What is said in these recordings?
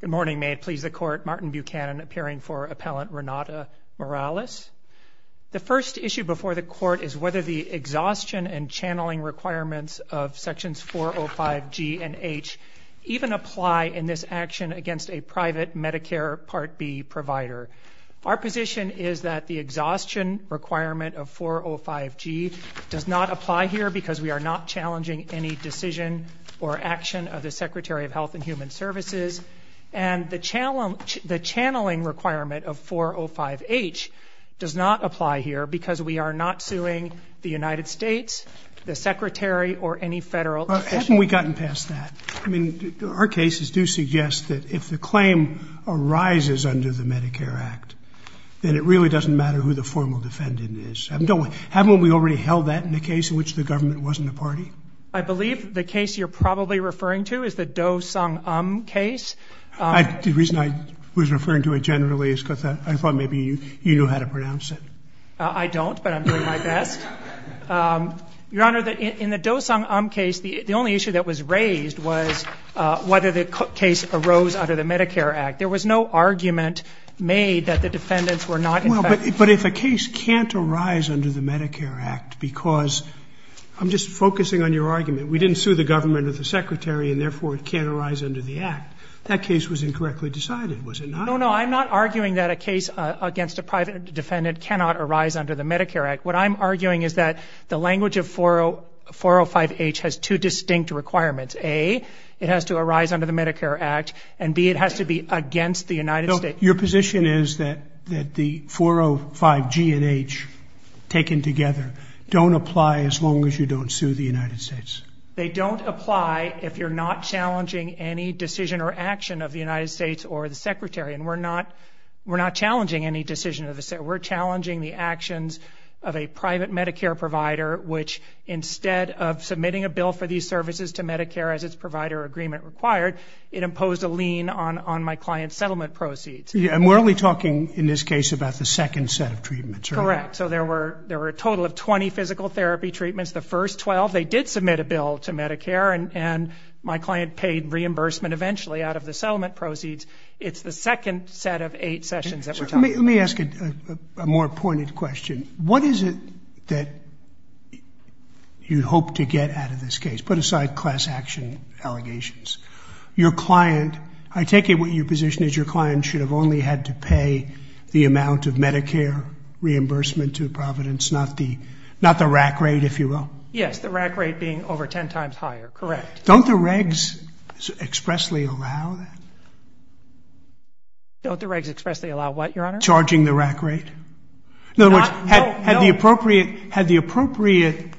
Good morning. May it please the court, Martin Buchanan appearing for Appellant Renate Morales. The first issue before the court is whether the exhaustion and channeling requirements of sections 405 G and H even apply in this action against a private Medicare Part B provider. Our position is that the exhaustion requirement of 405 G does not apply here because we are not suing the United States, the Secretary, or any federal official. Well, haven't we gotten past that? I mean, our cases do suggest that if the claim arises under the Medicare Act, then it really doesn't matter who the formal defendant is. Haven't we already held that in the case in which the government wasn't a party? I believe the case you're probably referring to is the Doe-Smith case. Doe-Smith. Doe-Smith. The reason I was referring to it generally is because I thought maybe you knew how to pronounce it. I don't, but I'm doing my best. Your Honor, in the Doe-Smith case, the only issue that was raised was whether the case arose under the Medicare Act. There was no argument made that the defendants were not infected. Well, but if a case can't arise under the Medicare Act because, I'm just focusing on your argument, we didn't sue the government or the Secretary, and therefore it can't arise under the Act. That case was incorrectly decided, was it not? No, no, I'm not arguing that a case against a private defendant cannot arise under the Medicare Act. What I'm arguing is that the language of 405H has two distinct requirements. A, it has to arise under the Medicare Act, and B, it has to be against the United States. Your position is that the 405G and H, taken together, don't apply as long as you don't sue the United States? They don't apply if you're not challenging any decision or action of the United States or the Secretary. And we're not challenging any decision of the Secretary. We're challenging the actions of a private Medicare provider which, instead of submitting a bill for these services to Medicare as its provider agreement required, it imposed a lien on my client's settlement proceeds. Yeah, and we're only talking, in this case, about the second set of treatments, right? Right, so there were a total of 20 physical therapy treatments. The first 12, they did submit a bill to Medicare, and my client paid reimbursement eventually out of the settlement proceeds. It's the second set of eight sessions that we're talking about. Let me ask a more pointed question. What is it that you hope to get out of this case? Put aside class action allegations. Your client, I take it what your position is your client should have only had to pay the amount of reimbursement to Providence, not the RAC rate, if you will? Yes, the RAC rate being over 10 times higher, correct. Don't the regs expressly allow that? Don't the regs expressly allow what, Your Honor? Charging the RAC rate. No, no. In other words, had the appropriate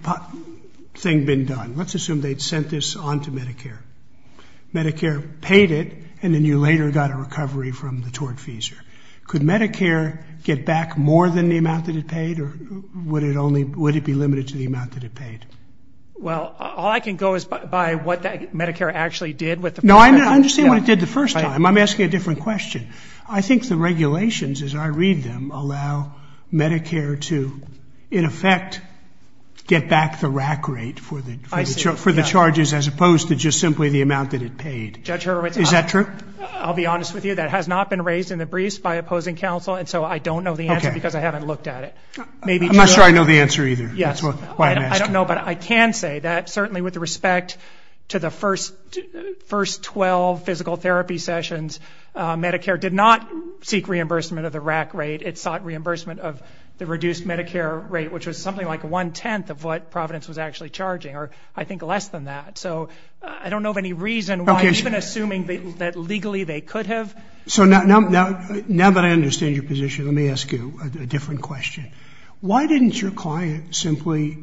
thing been done, let's assume they'd sent this on to Medicare. Medicare paid it, and then you later got a recovery from the tort fees. Could Medicare get back more than the amount that it paid, or would it be limited to the amount that it paid? Well, all I can go is by what Medicare actually did. No, I understand what it did the first time. I'm asking a different question. I think the regulations, as I read them, allow Medicare to, in effect, get back the RAC rate for the charges as opposed to just simply the amount that it paid. Is that true? I'll be honest with you. That has not been raised in the briefs by opposing counsel, and so I don't know the answer because I haven't looked at it. I'm not sure I know the answer either. I don't know, but I can say that certainly with respect to the first 12 physical therapy sessions, Medicare did not seek reimbursement of the RAC rate. It sought reimbursement of the reduced Medicare rate, which was something like one-tenth of what Providence was actually charging, or I think less than that. So I don't know of any reason why, even assuming that legally they could have. So now that I understand your position, let me ask you a different question. Why didn't your client simply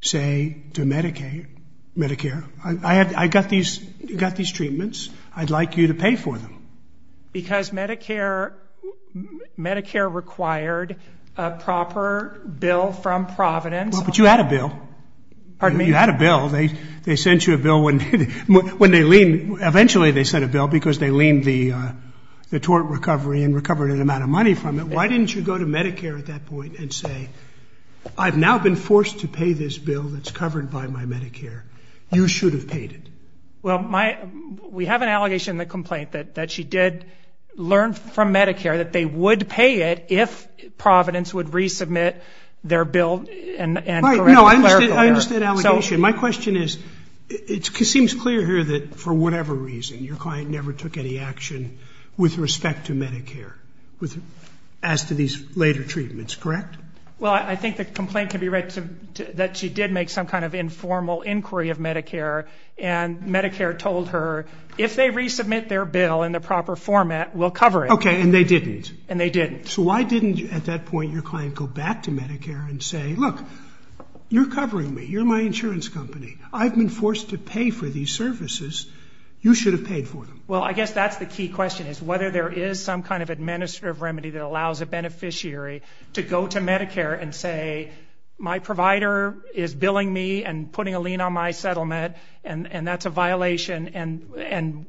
say to Medicare, I got these treatments. I'd like you to pay for them? Because Medicare required a proper bill from Providence. But you had a bill. You had a bill. They sent you a bill. Eventually they sent a bill because they leaned the tort recovery and recovered an amount of money from it. Why didn't you go to Medicare at that point and say, I've now been forced to pay this bill that's covered by my Medicare. You should have paid it. Well, we have an allegation in the complaint that she did learn from Medicare that they would pay it if Providence would resubmit their bill and correct the clerical error. I understand the allegation. My question is, it seems clear here that for whatever reason your client never took any action with respect to Medicare as to these later treatments, correct? Well, I think the complaint can be read that she did make some kind of informal inquiry of Medicare, and Medicare told her, if they resubmit their bill in the proper format, we'll cover it. Okay, and they didn't? And they didn't. Okay, so why didn't at that point your client go back to Medicare and say, look, you're covering me. You're my insurance company. I've been forced to pay for these services. You should have paid for them. Well, I guess that's the key question, is whether there is some kind of administrative remedy that allows a beneficiary to go to Medicare and say, my provider is billing me and putting a lien on my settlement, and that's a violation, and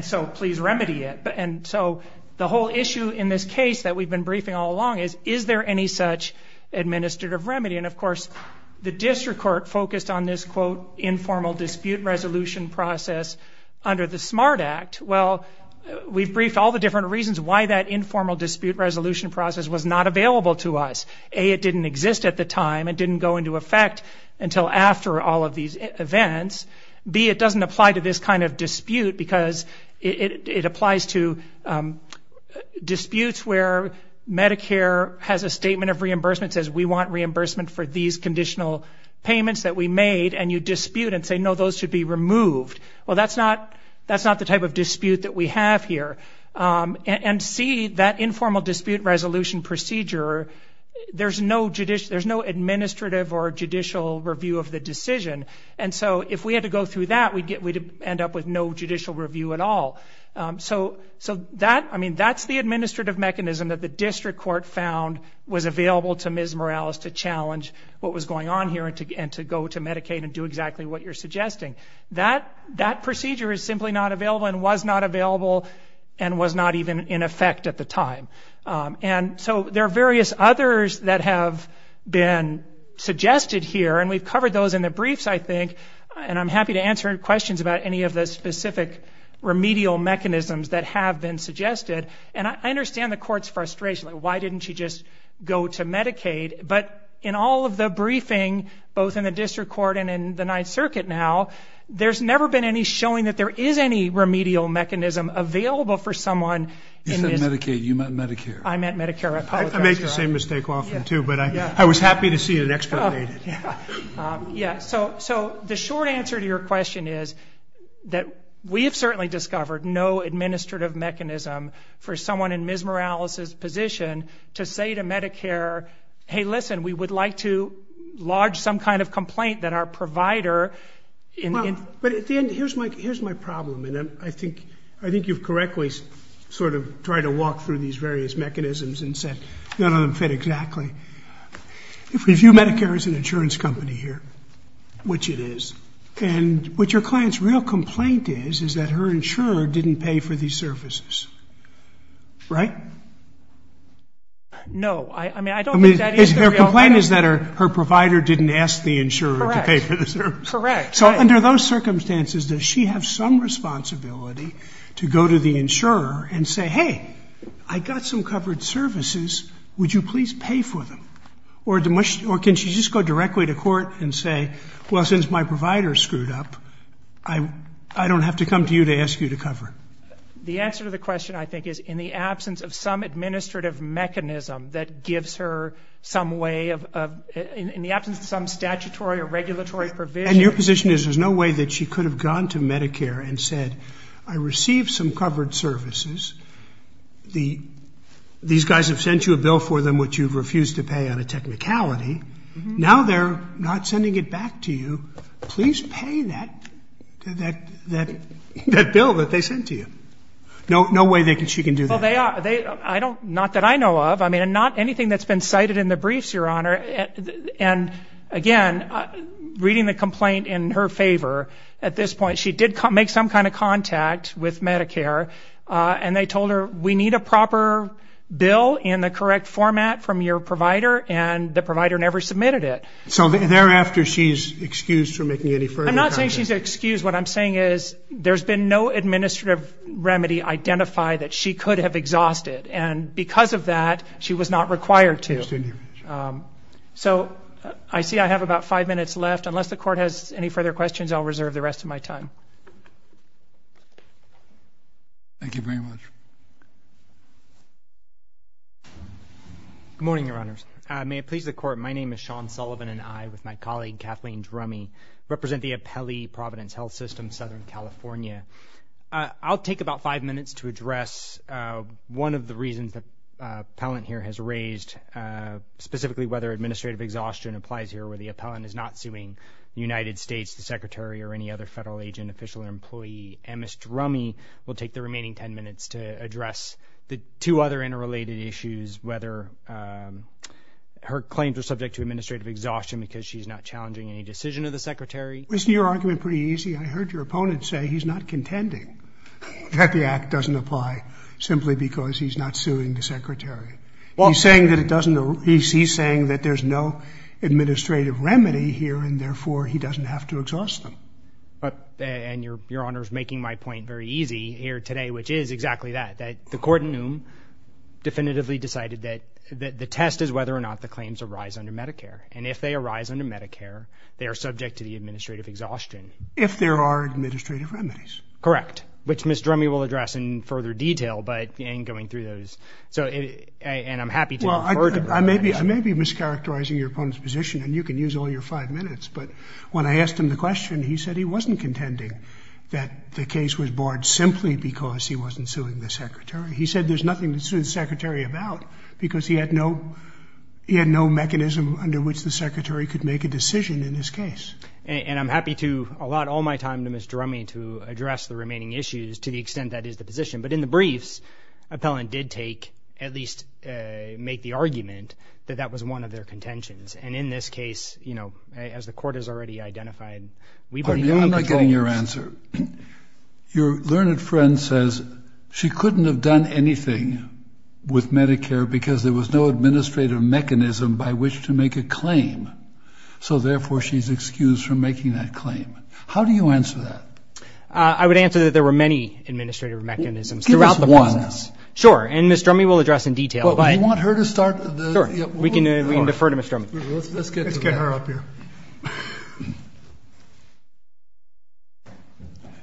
so please remedy it. And so the whole issue in this case that we've been briefing all along is, is there any such administrative remedy? And of course, the district court focused on this, quote, informal dispute resolution process under the SMART Act. Well, we've briefed all the different reasons why that informal dispute resolution process was not available to us. A, it didn't exist at the time. It didn't go into effect until after all of these events. B, it doesn't apply to this kind of dispute because it applies to disputes where Medicare has a statement of reimbursement, says we want reimbursement for these conditional payments that we made, and you dispute and say, no, those should be removed. Well, that's not the type of dispute that we have here. And C, that informal dispute resolution procedure, there's no administrative or judicial review of the decision. And so if we had to go through that, we'd end up with no judicial review at all. So that, I mean, that's the administrative mechanism that the district court found was available to Ms. Morales to challenge what was going on here and to go to Medicaid and do exactly what you're suggesting. That procedure is simply not available and was not available and was not even in effect at the time. And so there are various others that have been suggested here, and we've covered those in the briefs, I think, and I'm happy to answer questions about any of the specific remedial mechanisms that have been suggested. And I understand the court's frustration. Like, why didn't she just go to Medicaid? But in all of the briefing, both in the district court and in the Ninth Circuit now, there's never been any showing that there is any remedial mechanism available for someone. You said Medicaid. You meant Medicare. I meant Medicare. I apologize. I make the same mistake often, too, but I was happy to see it explanated. Yeah. So the short answer to your question is that we have certainly discovered no administrative mechanism for someone in Ms. Morales' position to say to Medicare, hey, listen, we would like to lodge some kind of complaint that our provider... Well, but at the end, here's my problem, and I think you've correctly sort of tried to walk through these various mechanisms and said there's no insurance company here, which it is. And what your client's real complaint is is that her insurer didn't pay for these services. Right? No. I mean, I don't think that is the real complaint. Her complaint is that her provider didn't ask the insurer to pay for the services. Correct. So under those circumstances, does she have some responsibility to go to the insurer and say, hey, I got some covered services. Would you please pay for them? Or can she just go directly to court and say, well, since my provider's screwed up, I don't have to come to you to ask you to cover? The answer to the question, I think, is in the absence of some administrative mechanism that gives her some way of, in the absence of some statutory or regulatory provision... And your position is there's no way that she could have gone to Medicare and said, I received some covered services. These guys have sent you a bill that you refused to pay on a technicality. Now they're not sending it back to you. Please pay that bill that they sent to you. No way she can do that. Well, they are. Not that I know of. I mean, not anything that's been cited in the briefs, Your Honor. And, again, reading the complaint in her favor, at this point, she did make some kind of contact with Medicare, and they told her, we need a proper bill in the correct format from your provider, and the provider never submitted it. So thereafter, she's excused from making any further contact? I'm not saying she's excused. What I'm saying is there's been no administrative remedy identified that she could have exhausted, and because of that, she was not required to. So I see I have about five minutes left. Unless the Court has any further questions, I'll reserve the rest of my time. Thank you very much. Good morning, Your Honors. May it please the Court, my name is Sean Sullivan, and I, with my colleague Kathleen Drumey, represent the appellee, Providence Health System, Southern California. I'll take about five minutes to address one of the reasons the appellant here has raised, specifically whether administrative exhaustion applies here, where the appellant is not suing the United States, the Secretary, or any other federal agent, official, or employee. Ms. Drumey will take the remaining ten minutes to address the two other interrelated issues, whether her claims are subject to administrative exhaustion because she's not challenging any decision of the Secretary. Wasn't your argument pretty easy? I heard your opponent say he's not contending that the Act doesn't apply simply because he's not suing the Secretary. He's saying that there's no administrative remedy here, and therefore, he doesn't have to exhaust them. But, and Your Honors making my point very easy here today, which is exactly that, that the court in Noom definitively decided that the test is whether or not the claims arise under Medicare. And if they arise under Medicare, they are subject to the administrative exhaustion. If there are administrative remedies. Correct. Which Ms. Drumey will address in further detail, but in going through those, so, and I'm happy to refer to that. Well, I may be mischaracterizing your opponent's position, and you can use all your five minutes, but when I asked him the question, he said he wasn't contending that the case was barred simply because he wasn't suing the Secretary. He said there's nothing to sue the Secretary about because he had no mechanism under which the Secretary could make a decision in this case. And I'm happy to allot all my time to Ms. Drumey to address the remaining issues to the extent that is the position. But in the briefs, appellant did take, at least make the argument that that was one of their intentions. And in this case, you know, as the court has already identified, we believe that he controls. I'm not getting your answer. Your learned friend says she couldn't have done anything with Medicare because there was no administrative mechanism by which to make a claim. So, therefore, she's excused from making that claim. How do you answer that? I would answer that there were many administrative mechanisms throughout the process. Give us one. Sure. And Ms. Drumey will address in detail. But we want her to start. Sure. We can defer to Ms. Drumey. Let's get her up here.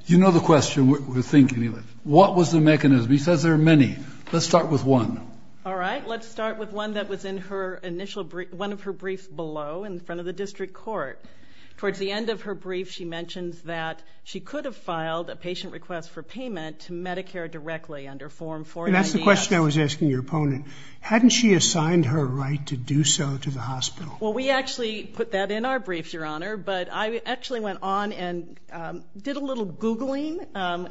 You know the question. What was the mechanism? He says there are many. Let's start with one. All right. Let's start with one that was in one of her briefs below in front of the district court. Towards the end of her brief, she mentions that she could have filed a patient request for payment to Medicare directly under Form 496. That's the question I was asking your opponent. Hadn't she assigned her right to do so to the hospital? Well, we actually put that in our briefs, Your Honor. But I actually went on and did a little Googling.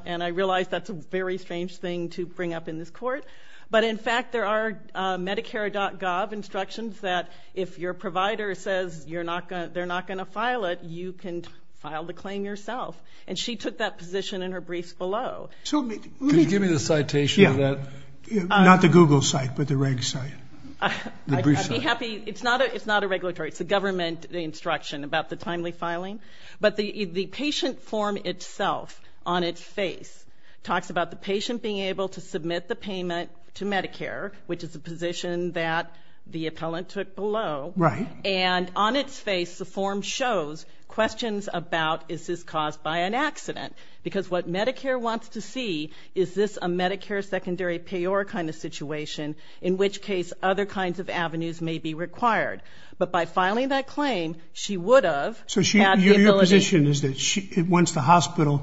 And I realized that's a very strange thing to bring up in this court. But, in fact, there are Medicare.gov instructions that if your provider says they're not going to file it, you can file the claim yourself. And she took that position in her briefs below. Could you give me the citation of that? Yeah. Not the Google site, but the reg site. I'd be happy. It's not a regulatory. It's a government instruction about the timely filing. But the patient form itself on its face talks about the patient being able to submit the payment to Medicare, which is a position that the appellant took below. Right. And on its face, the form shows questions about is this caused by an accident? Because what Medicare wants to see is this a Medicare secondary payor kind of situation, in which case other kinds of avenues may be required. But by filing that claim, she would have had the ability... So your position is that once the hospital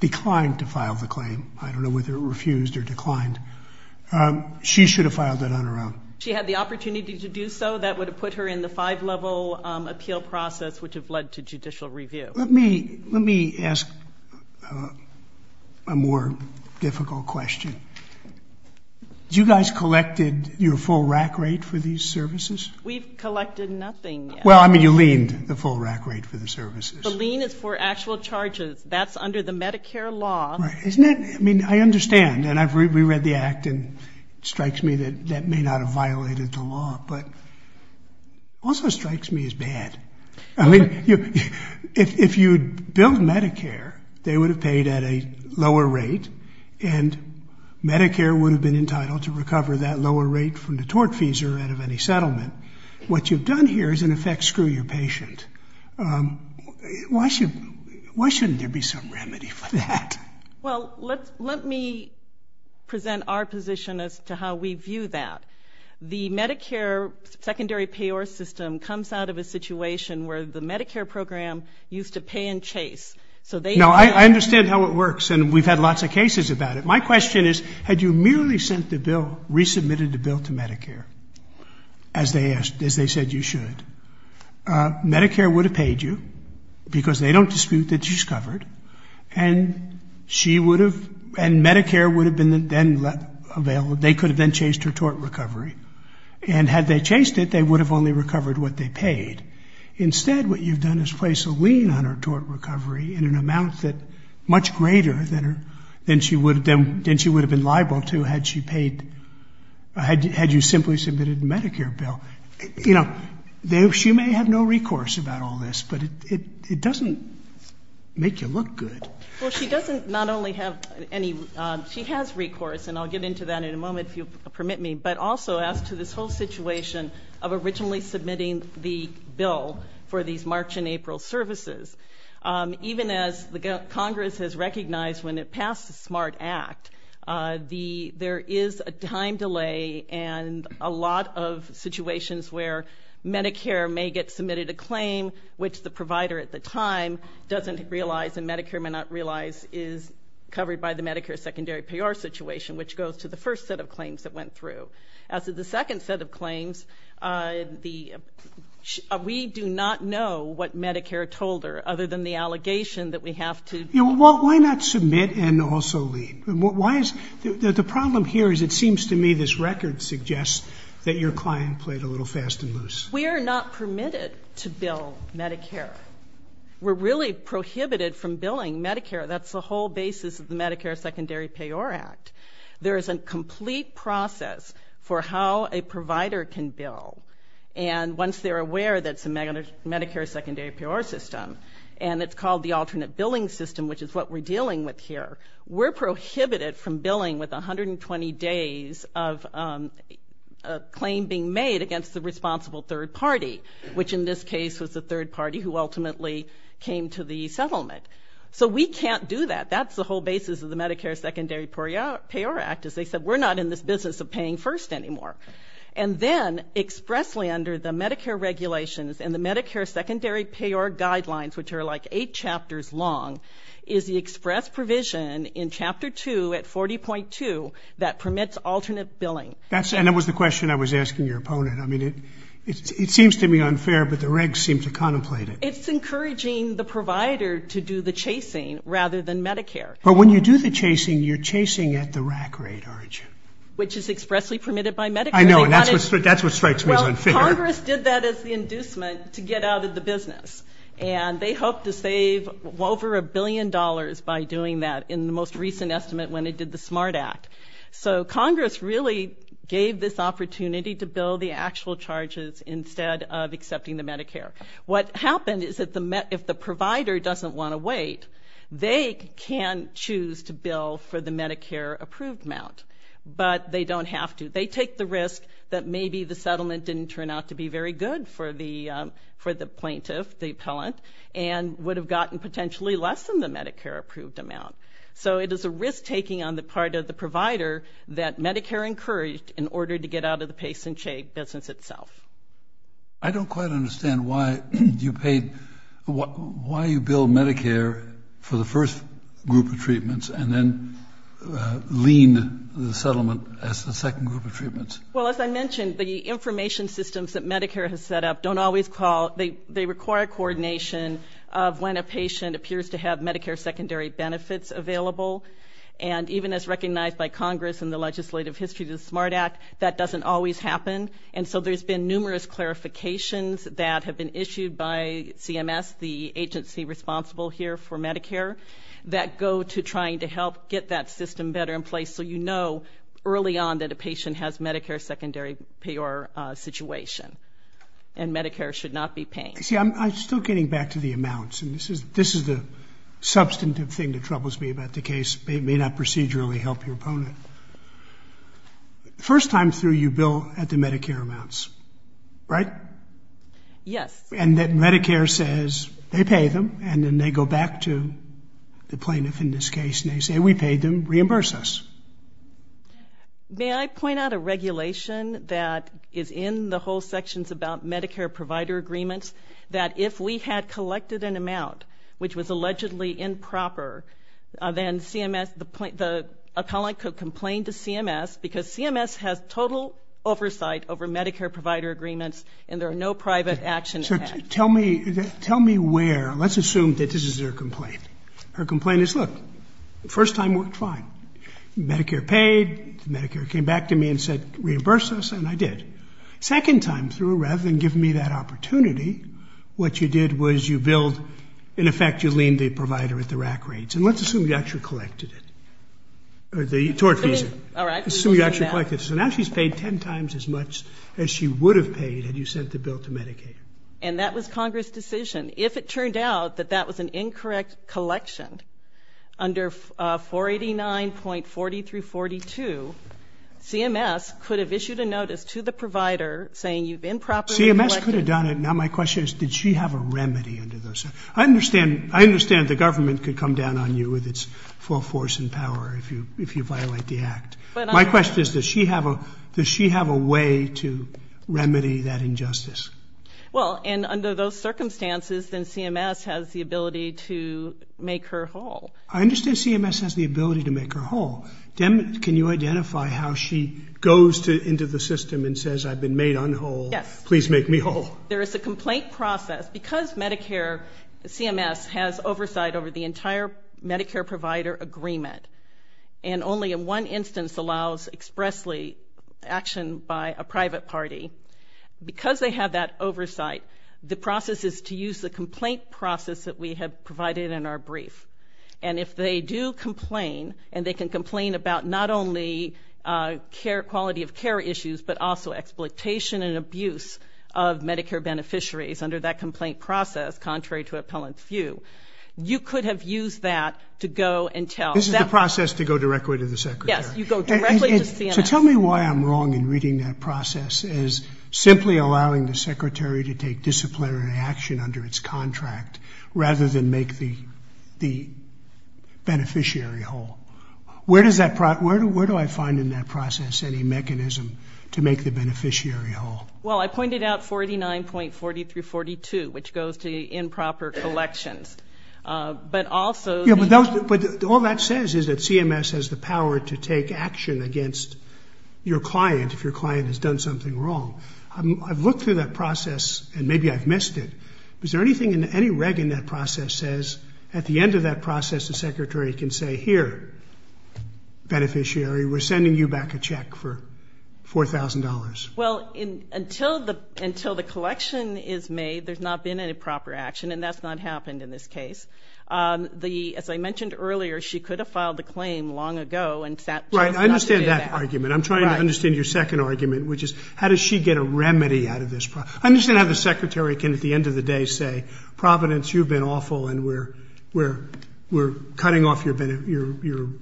declined to file the claim, I don't know whether it refused or declined, she should have filed that on her own. She had the opportunity to do so. That would have put her in the five-level appeal process, which would have led to judicial review. Let me ask a more difficult question. You guys collected your full RAC rate for these services? We've collected nothing. Well, I mean, you leaned the full RAC rate for the services. The lien is for actual charges. That's under the Medicare law. Right. Isn't it? I mean, I understand. And I've reread the act, and it strikes me that that may not have violated the law. But it also strikes me as bad. I mean, if you'd billed Medicare, they would have paid at a lower rate, and Medicare would have been entitled to recover that lower rate from the tort fees or out of any settlement. What you've done here is, in effect, screw your patient. Why shouldn't there be some remedy for that? Well, let me present our position as to how we view that. The Medicare secondary payor system comes out of a situation where the Medicare program used to pay in chase. Now, I understand how it works, and we've had lots of cases about it. My question is, had you merely sent the bill, resubmitted the bill to Medicare, as they said you should, Medicare would have paid you because they don't dispute that she's covered, and she would have, and Medicare would have been then available. They could have then chased her tort recovery. And had they chased it, they would have only recovered what they paid. Instead, what you've done is placed a lien on her tort recovery in an amount that's much greater than she would have been liable to had she paid, had you simply submitted the Medicare bill. You know, she may have no recourse about all this, but it doesn't make you look good. Well, she doesn't not only have any, she has recourse, and I'll get into that in a moment, if you'll permit me, but also as to this whole situation of originally submitting the bill for these March and April services. Even as Congress has recognized when it passed the SMART Act, there is a time delay and a lot of situations where Medicare may get submitted a claim, which the provider at the time doesn't realize, and Medicare may not realize is covered by the Medicare secondary payor situation, which goes to the first set of claims that went through. As to the second set of claims, we do not know what Medicare told her, other than the allegation that we have to... You know, why not submit and also lien? Why is, the problem here is it seems to me this record suggests that your client played a little fast and loose. We are not permitted to bill Medicare. We're really prohibited from billing Medicare. That's the whole basis of the Medicare Secondary Payor Act. There is a complete process for how a provider can bill, and once they're aware that it's a Medicare secondary payor system, and it's called the alternate billing system, which is what we're dealing with here, we're prohibited from billing with 120 days of a claim being made against the responsible third party, which in this case was the third party who ultimately came to the settlement. So we can't do that. That's the whole basis of the Medicare Secondary Payor Act, is they said we're not in this business of paying first anymore. And then expressly under the Medicare regulations and the Medicare Secondary Payor Guidelines, which are like eight chapters long, is the express provision in Chapter 2 at 40.2 that permits alternate billing. And that was the question I was asking your opponent. I mean, it seems to me unfair, but the regs seem to contemplate it. It's encouraging the provider to do the chasing rather than Medicare. But when you do the chasing, you're chasing at the rack rate origin. Which is expressly permitted by Medicare. I know, and that's what strikes me as unfair. Well, Congress did that as the inducement to get out of the business. And they hoped to save over a billion dollars by doing that in the most recent estimate when they did the SMART Act. So Congress really gave this opportunity to bill the actual charges instead of accepting the Medicare. What happened is that if the provider doesn't want to wait, they can choose to bill for the Medicare-approved amount. But they don't have to. They take the risk that maybe the settlement didn't turn out to be very good for the plaintiff, the appellant, and would have gotten potentially less than the Medicare-approved amount. So it is a risk-taking on the part of the provider that Medicare encouraged in order to get out of the pay-some-shake business itself. I don't quite understand why you bill Medicare for the first group of treatments and then lean the settlement as the second group of treatments. Well, as I mentioned, the information systems that Medicare has set up don't always call. They require coordination of when a patient appears to have Medicare secondary benefits available. And even as recognized by Congress in the legislative history of the SMART Act, that doesn't always happen. And so there's been numerous clarifications that have been issued by CMS, the agency responsible here for Medicare, that go to trying to help get that system better in place so you know early on that a patient has Medicare secondary payor situation. And Medicare should not be paying. See, I'm still getting back to the amounts. And this is the substantive thing that troubles me about the case. It may not procedurally help your opponent. First time through, you bill at the Medicare amounts, right? Yes. And then Medicare says they pay them and then they go back to the plaintiff in this case and they say we paid them, reimburse us. May I point out a regulation that is in the whole sections about Medicare provider agreements that if we had collected an amount which was allegedly improper, then CMS, the opponent could complain to CMS because CMS has total oversight over Medicare provider agreements and there are no private action acts. So tell me where, let's assume that this is her complaint. Her complaint is, look, first time worked fine. Medicare paid, Medicare came back to me and said reimburse us, and I did. Second time through, rather than giving me that opportunity, what you did was you billed, in effect you leaned the provider at the rack rates. And let's assume you actually collected it, the tort fees, assume you actually collected it. So now she's paid 10 times as much as she would have paid had you sent the bill to Medicaid. And that was Congress' decision. If it turned out that that was an incorrect collection under 489.40 through 42, CMS could have issued a notice to the provider saying you've improperly collected. CMS could have done it. Now my question is did she have a remedy under those? I understand the government could come down on you with its full force and power if you violate the act. My question is does she have a way to remedy that injustice? Well, and under those circumstances, then CMS has the ability to make her whole. I understand CMS has the ability to make her whole. Can you identify how she goes into the system and says I've been made unwhole, please make me whole? There is a complaint process. Because Medicare, CMS has oversight over the entire Medicare provider agreement, and only in one instance allows expressly action by a private party. Because they have that oversight, the process is to use the complaint process that we have provided in our brief. And if they do complain, and they can complain about not only quality of care issues, but also exploitation and abuse of Medicare beneficiaries under that complaint process, contrary to appellant view, you could have used that to go and tell. This is the process to go directly to the secretary. Yes, you go directly to CMS. So tell me why I'm wrong in reading that process as simply allowing the secretary to take disciplinary action under its contract, rather than make the beneficiary whole. Where do I find in that process any mechanism to make the beneficiary whole? Well, I pointed out 49.40 through 42, which goes to improper collections. But also... But all that says is that CMS has the power to take action against your client if your client has done something wrong. I've looked through that process, and maybe I've missed it. Is there anything in any reg in that process says at the end of that process the secretary can say, here, beneficiary, we're sending you back a check for $4,000? Well, until the collection is made, there's not been any proper action, and that's not happened in this case. As I mentioned earlier, she could have filed the claim long ago if that was not the case. Right. I understand that argument. I'm trying to understand your second argument, which is how does she get a remedy out of this problem? I understand how the secretary can at the end of the day say, Providence, you've been awful, and we're cutting off your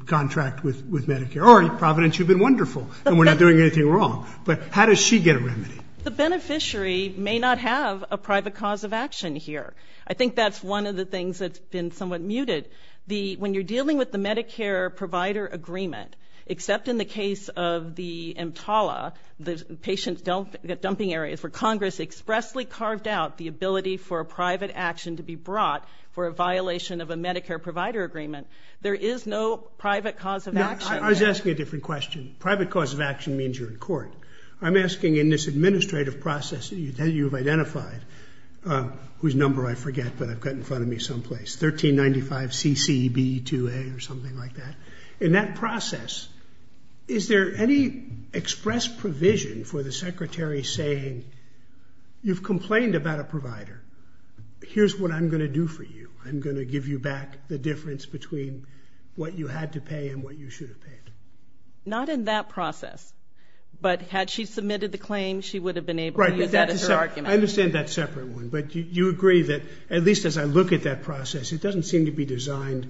contract with Medicare. Or, Providence, you've been wonderful, and we're not doing anything wrong. But how does she get a remedy? The beneficiary may not have a private cause of action here. I think that's one of the things that's been somewhat muted. When you're dealing with the Medicare provider agreement, except in the case of the EMTALA, the patient dumping areas where Congress expressly carved out the ability for a private action to be brought for a violation of a Medicare provider agreement, there is no private cause of action. I was asking a different question. Private cause of action means you're in court. I'm asking in this administrative process that you've identified, whose number I forget, but I've got in front of me someplace, CCB2A or something like that. In that process, is there any express provision for the secretary saying, you've complained about a provider. Here's what I'm going to do for you. I'm going to give you back the difference between what you had to pay and what you should have paid. Not in that process. But had she submitted the claim, she would have been able to use that as her argument. I understand that separate one. But you agree that, it's not designed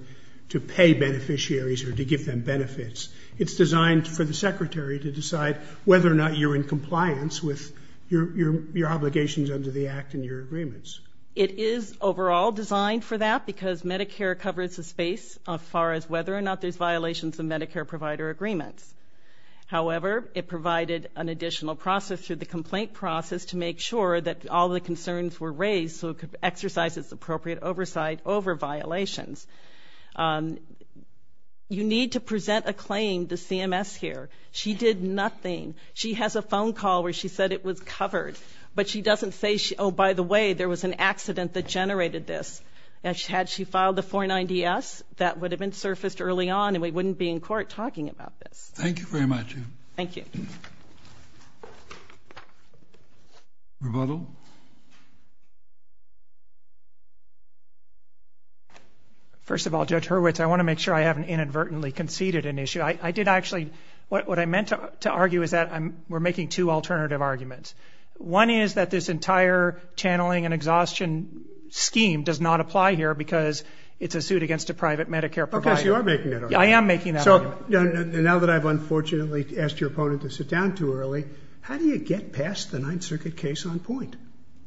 to pay beneficiaries or to give them benefits. It's designed for the secretary to decide whether or not you're in compliance with your obligations under the Act and your agreements. It is overall designed for that because Medicare covers the space as far as whether or not there's violations of Medicare provider agreements. However, it provided an additional process through the complaint process to make sure that all the concerns were raised so it could exercise its appropriate oversight over violations. You need to present a claim to CMS here. She did nothing. She has a phone call where she said it was covered. But she doesn't say, oh, by the way, there was an accident that generated this. Had she filed a 490S, that would have been surfaced early on and we wouldn't be in court talking about this. Thank you very much. Thank you. Rebuttal? First of all, Judge Hurwitz, I want to make sure I haven't inadvertently conceded an issue. I did actually, what I meant to argue is that we're making two alternative arguments. One is that this entire channeling and exhaustion scheme does not apply here because it's a suit against a private Medicare provider. Okay, so you are making that argument. I am making that argument. So now that I've unfortunately asked your opponent to sit down too early, how do you get past the Ninth Circuit case on point?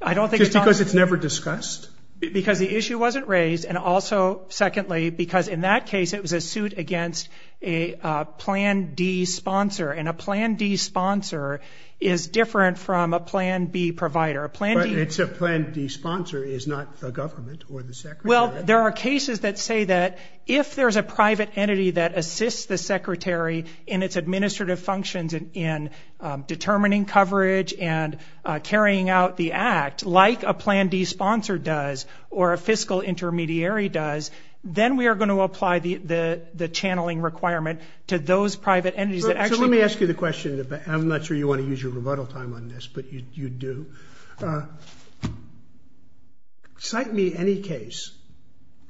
Just because it's never discussed? Because the issue wasn't raised and also, secondly, because in that case it was a suit against a plan D sponsor. And a plan D sponsor is different from a plan B provider. But it's a plan D sponsor, it's not the government or the secretary. Well, there are cases that say that if there's a private entity that assists the secretary in its administrative functions in determining coverage and carrying out the act like a plan D sponsor does or a fiscal intermediary does, then we are going to apply the channeling requirement to those private entities. So let me ask you the question. I'm not sure you want to use your rebuttal time on this, but you do. Cite me any case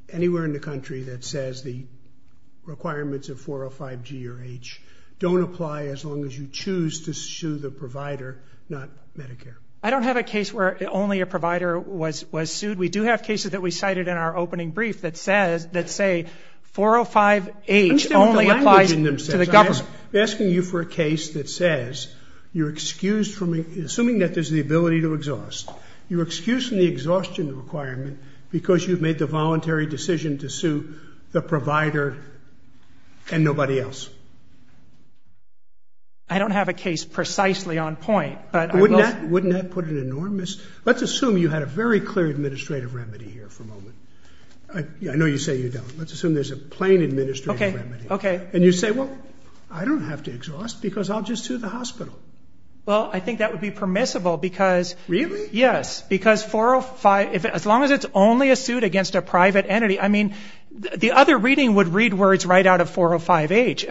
anywhere in the country that says the requirements of 405G or H don't apply as long as you choose to sue the provider, not Medicare. I don't have a case where only a provider was sued. We do have cases that we cited in our opening brief that say 405H only applies to the government. I'm asking you for a case that says you're excused from, assuming that there's the ability to exhaust, you're excused from the exhaustion requirement because you've made the voluntary decision to sue the provider and nobody else. I don't have a case that is precisely on point. Wouldn't that put an enormous... Let's assume you had a very clear administrative remedy here for a moment. I know you say you don't. Let's assume there's a plain administrative remedy. And you say, well, I don't have to exhaust because I'll just sue the hospital. Well, I think that would be permissible because... Really? Yes, because 405, as long as it's only a suit against a private entity, I mean, the other reading would read words right out of 405H.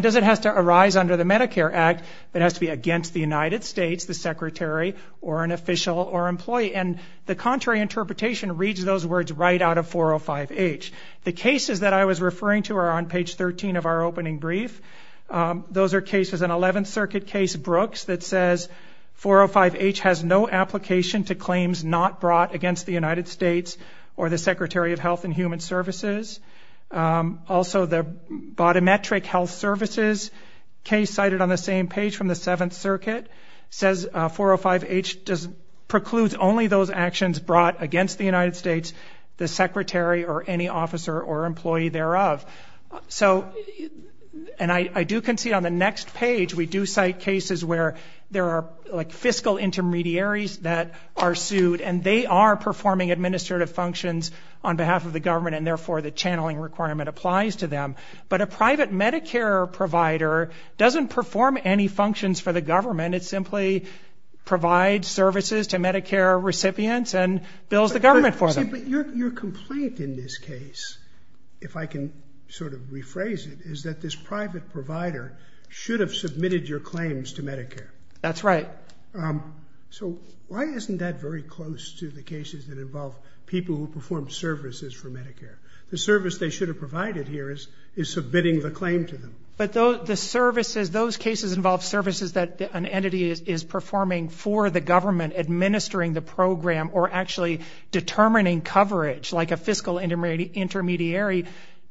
Because it has to arise under the Medicare Act, it has to be against the United States, the secretary, or an official or employee. And the contrary interpretation reads those words right out of 405H. The cases that I was referring to are on page 13 of our opening brief. Those are cases, an 11th Circuit case, Brooks, that says 405H has no application to claims not brought against the United States or the Secretary of Health and Human Services. Also, the Bodimetric Health Services case cited on the same page from the 7th Circuit says 405H precludes only those actions brought against the United States, the secretary, or any officer or employee thereof. So, and I do concede on the next page, we do cite cases where there are fiscal intermediaries that are sued and they are performing administrative functions on behalf of the government and therefore the channeling requirement applies to them. But a private Medicare provider doesn't perform any functions for the government. It simply provides services to Medicare recipients and bills the government for them. But your complaint in this case, if I can sort of rephrase it, is that this private provider should have submitted your claims to Medicare. That's right. So, why isn't that very close to the cases that involve people who perform services for Medicare? The service they should have provided here is submitting the claim to them. But the services, those cases involve services that an entity is performing for the government, administering the program, or actually determining coverage like a fiscal intermediary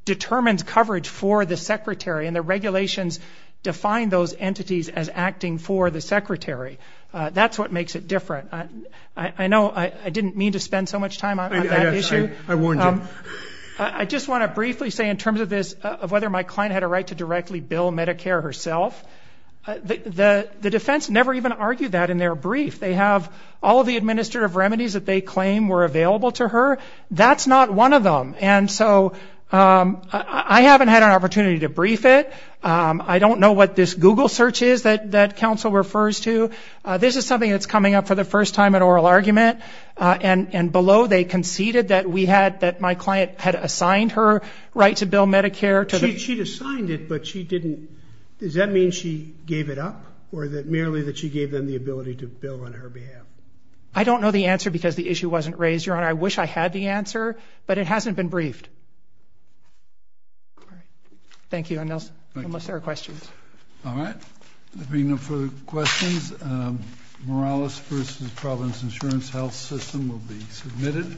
determines coverage for the secretary and the regulations define those entities as acting for the secretary. That's what makes it different. I know I didn't mean to spend so much time on that issue. I warned you. I just want to briefly say in terms of this, of whether my client had a right to directly bill Medicare herself, the defense never even argued that in their brief. They have all the administrative remedies that they claim were available to her. That's not one of them. And so, I haven't had an opportunity to brief it. I don't know what this Google search is that counsel refers to. This is something that's coming up for the first time in oral argument. And below, they conceded that we had, that my client had assigned her right to bill Medicare. She'd assigned it, but she didn't. Does that mean she gave it up? Or that merely that she gave them the ability to bill on her behalf? I don't know the answer because the issue wasn't raised, Your Honor. I wish I had the answer, but it hasn't been briefed. Thank you. Unless there are questions. All right. If there are no further questions, Morales versus Providence Insurance Health System will be submitted.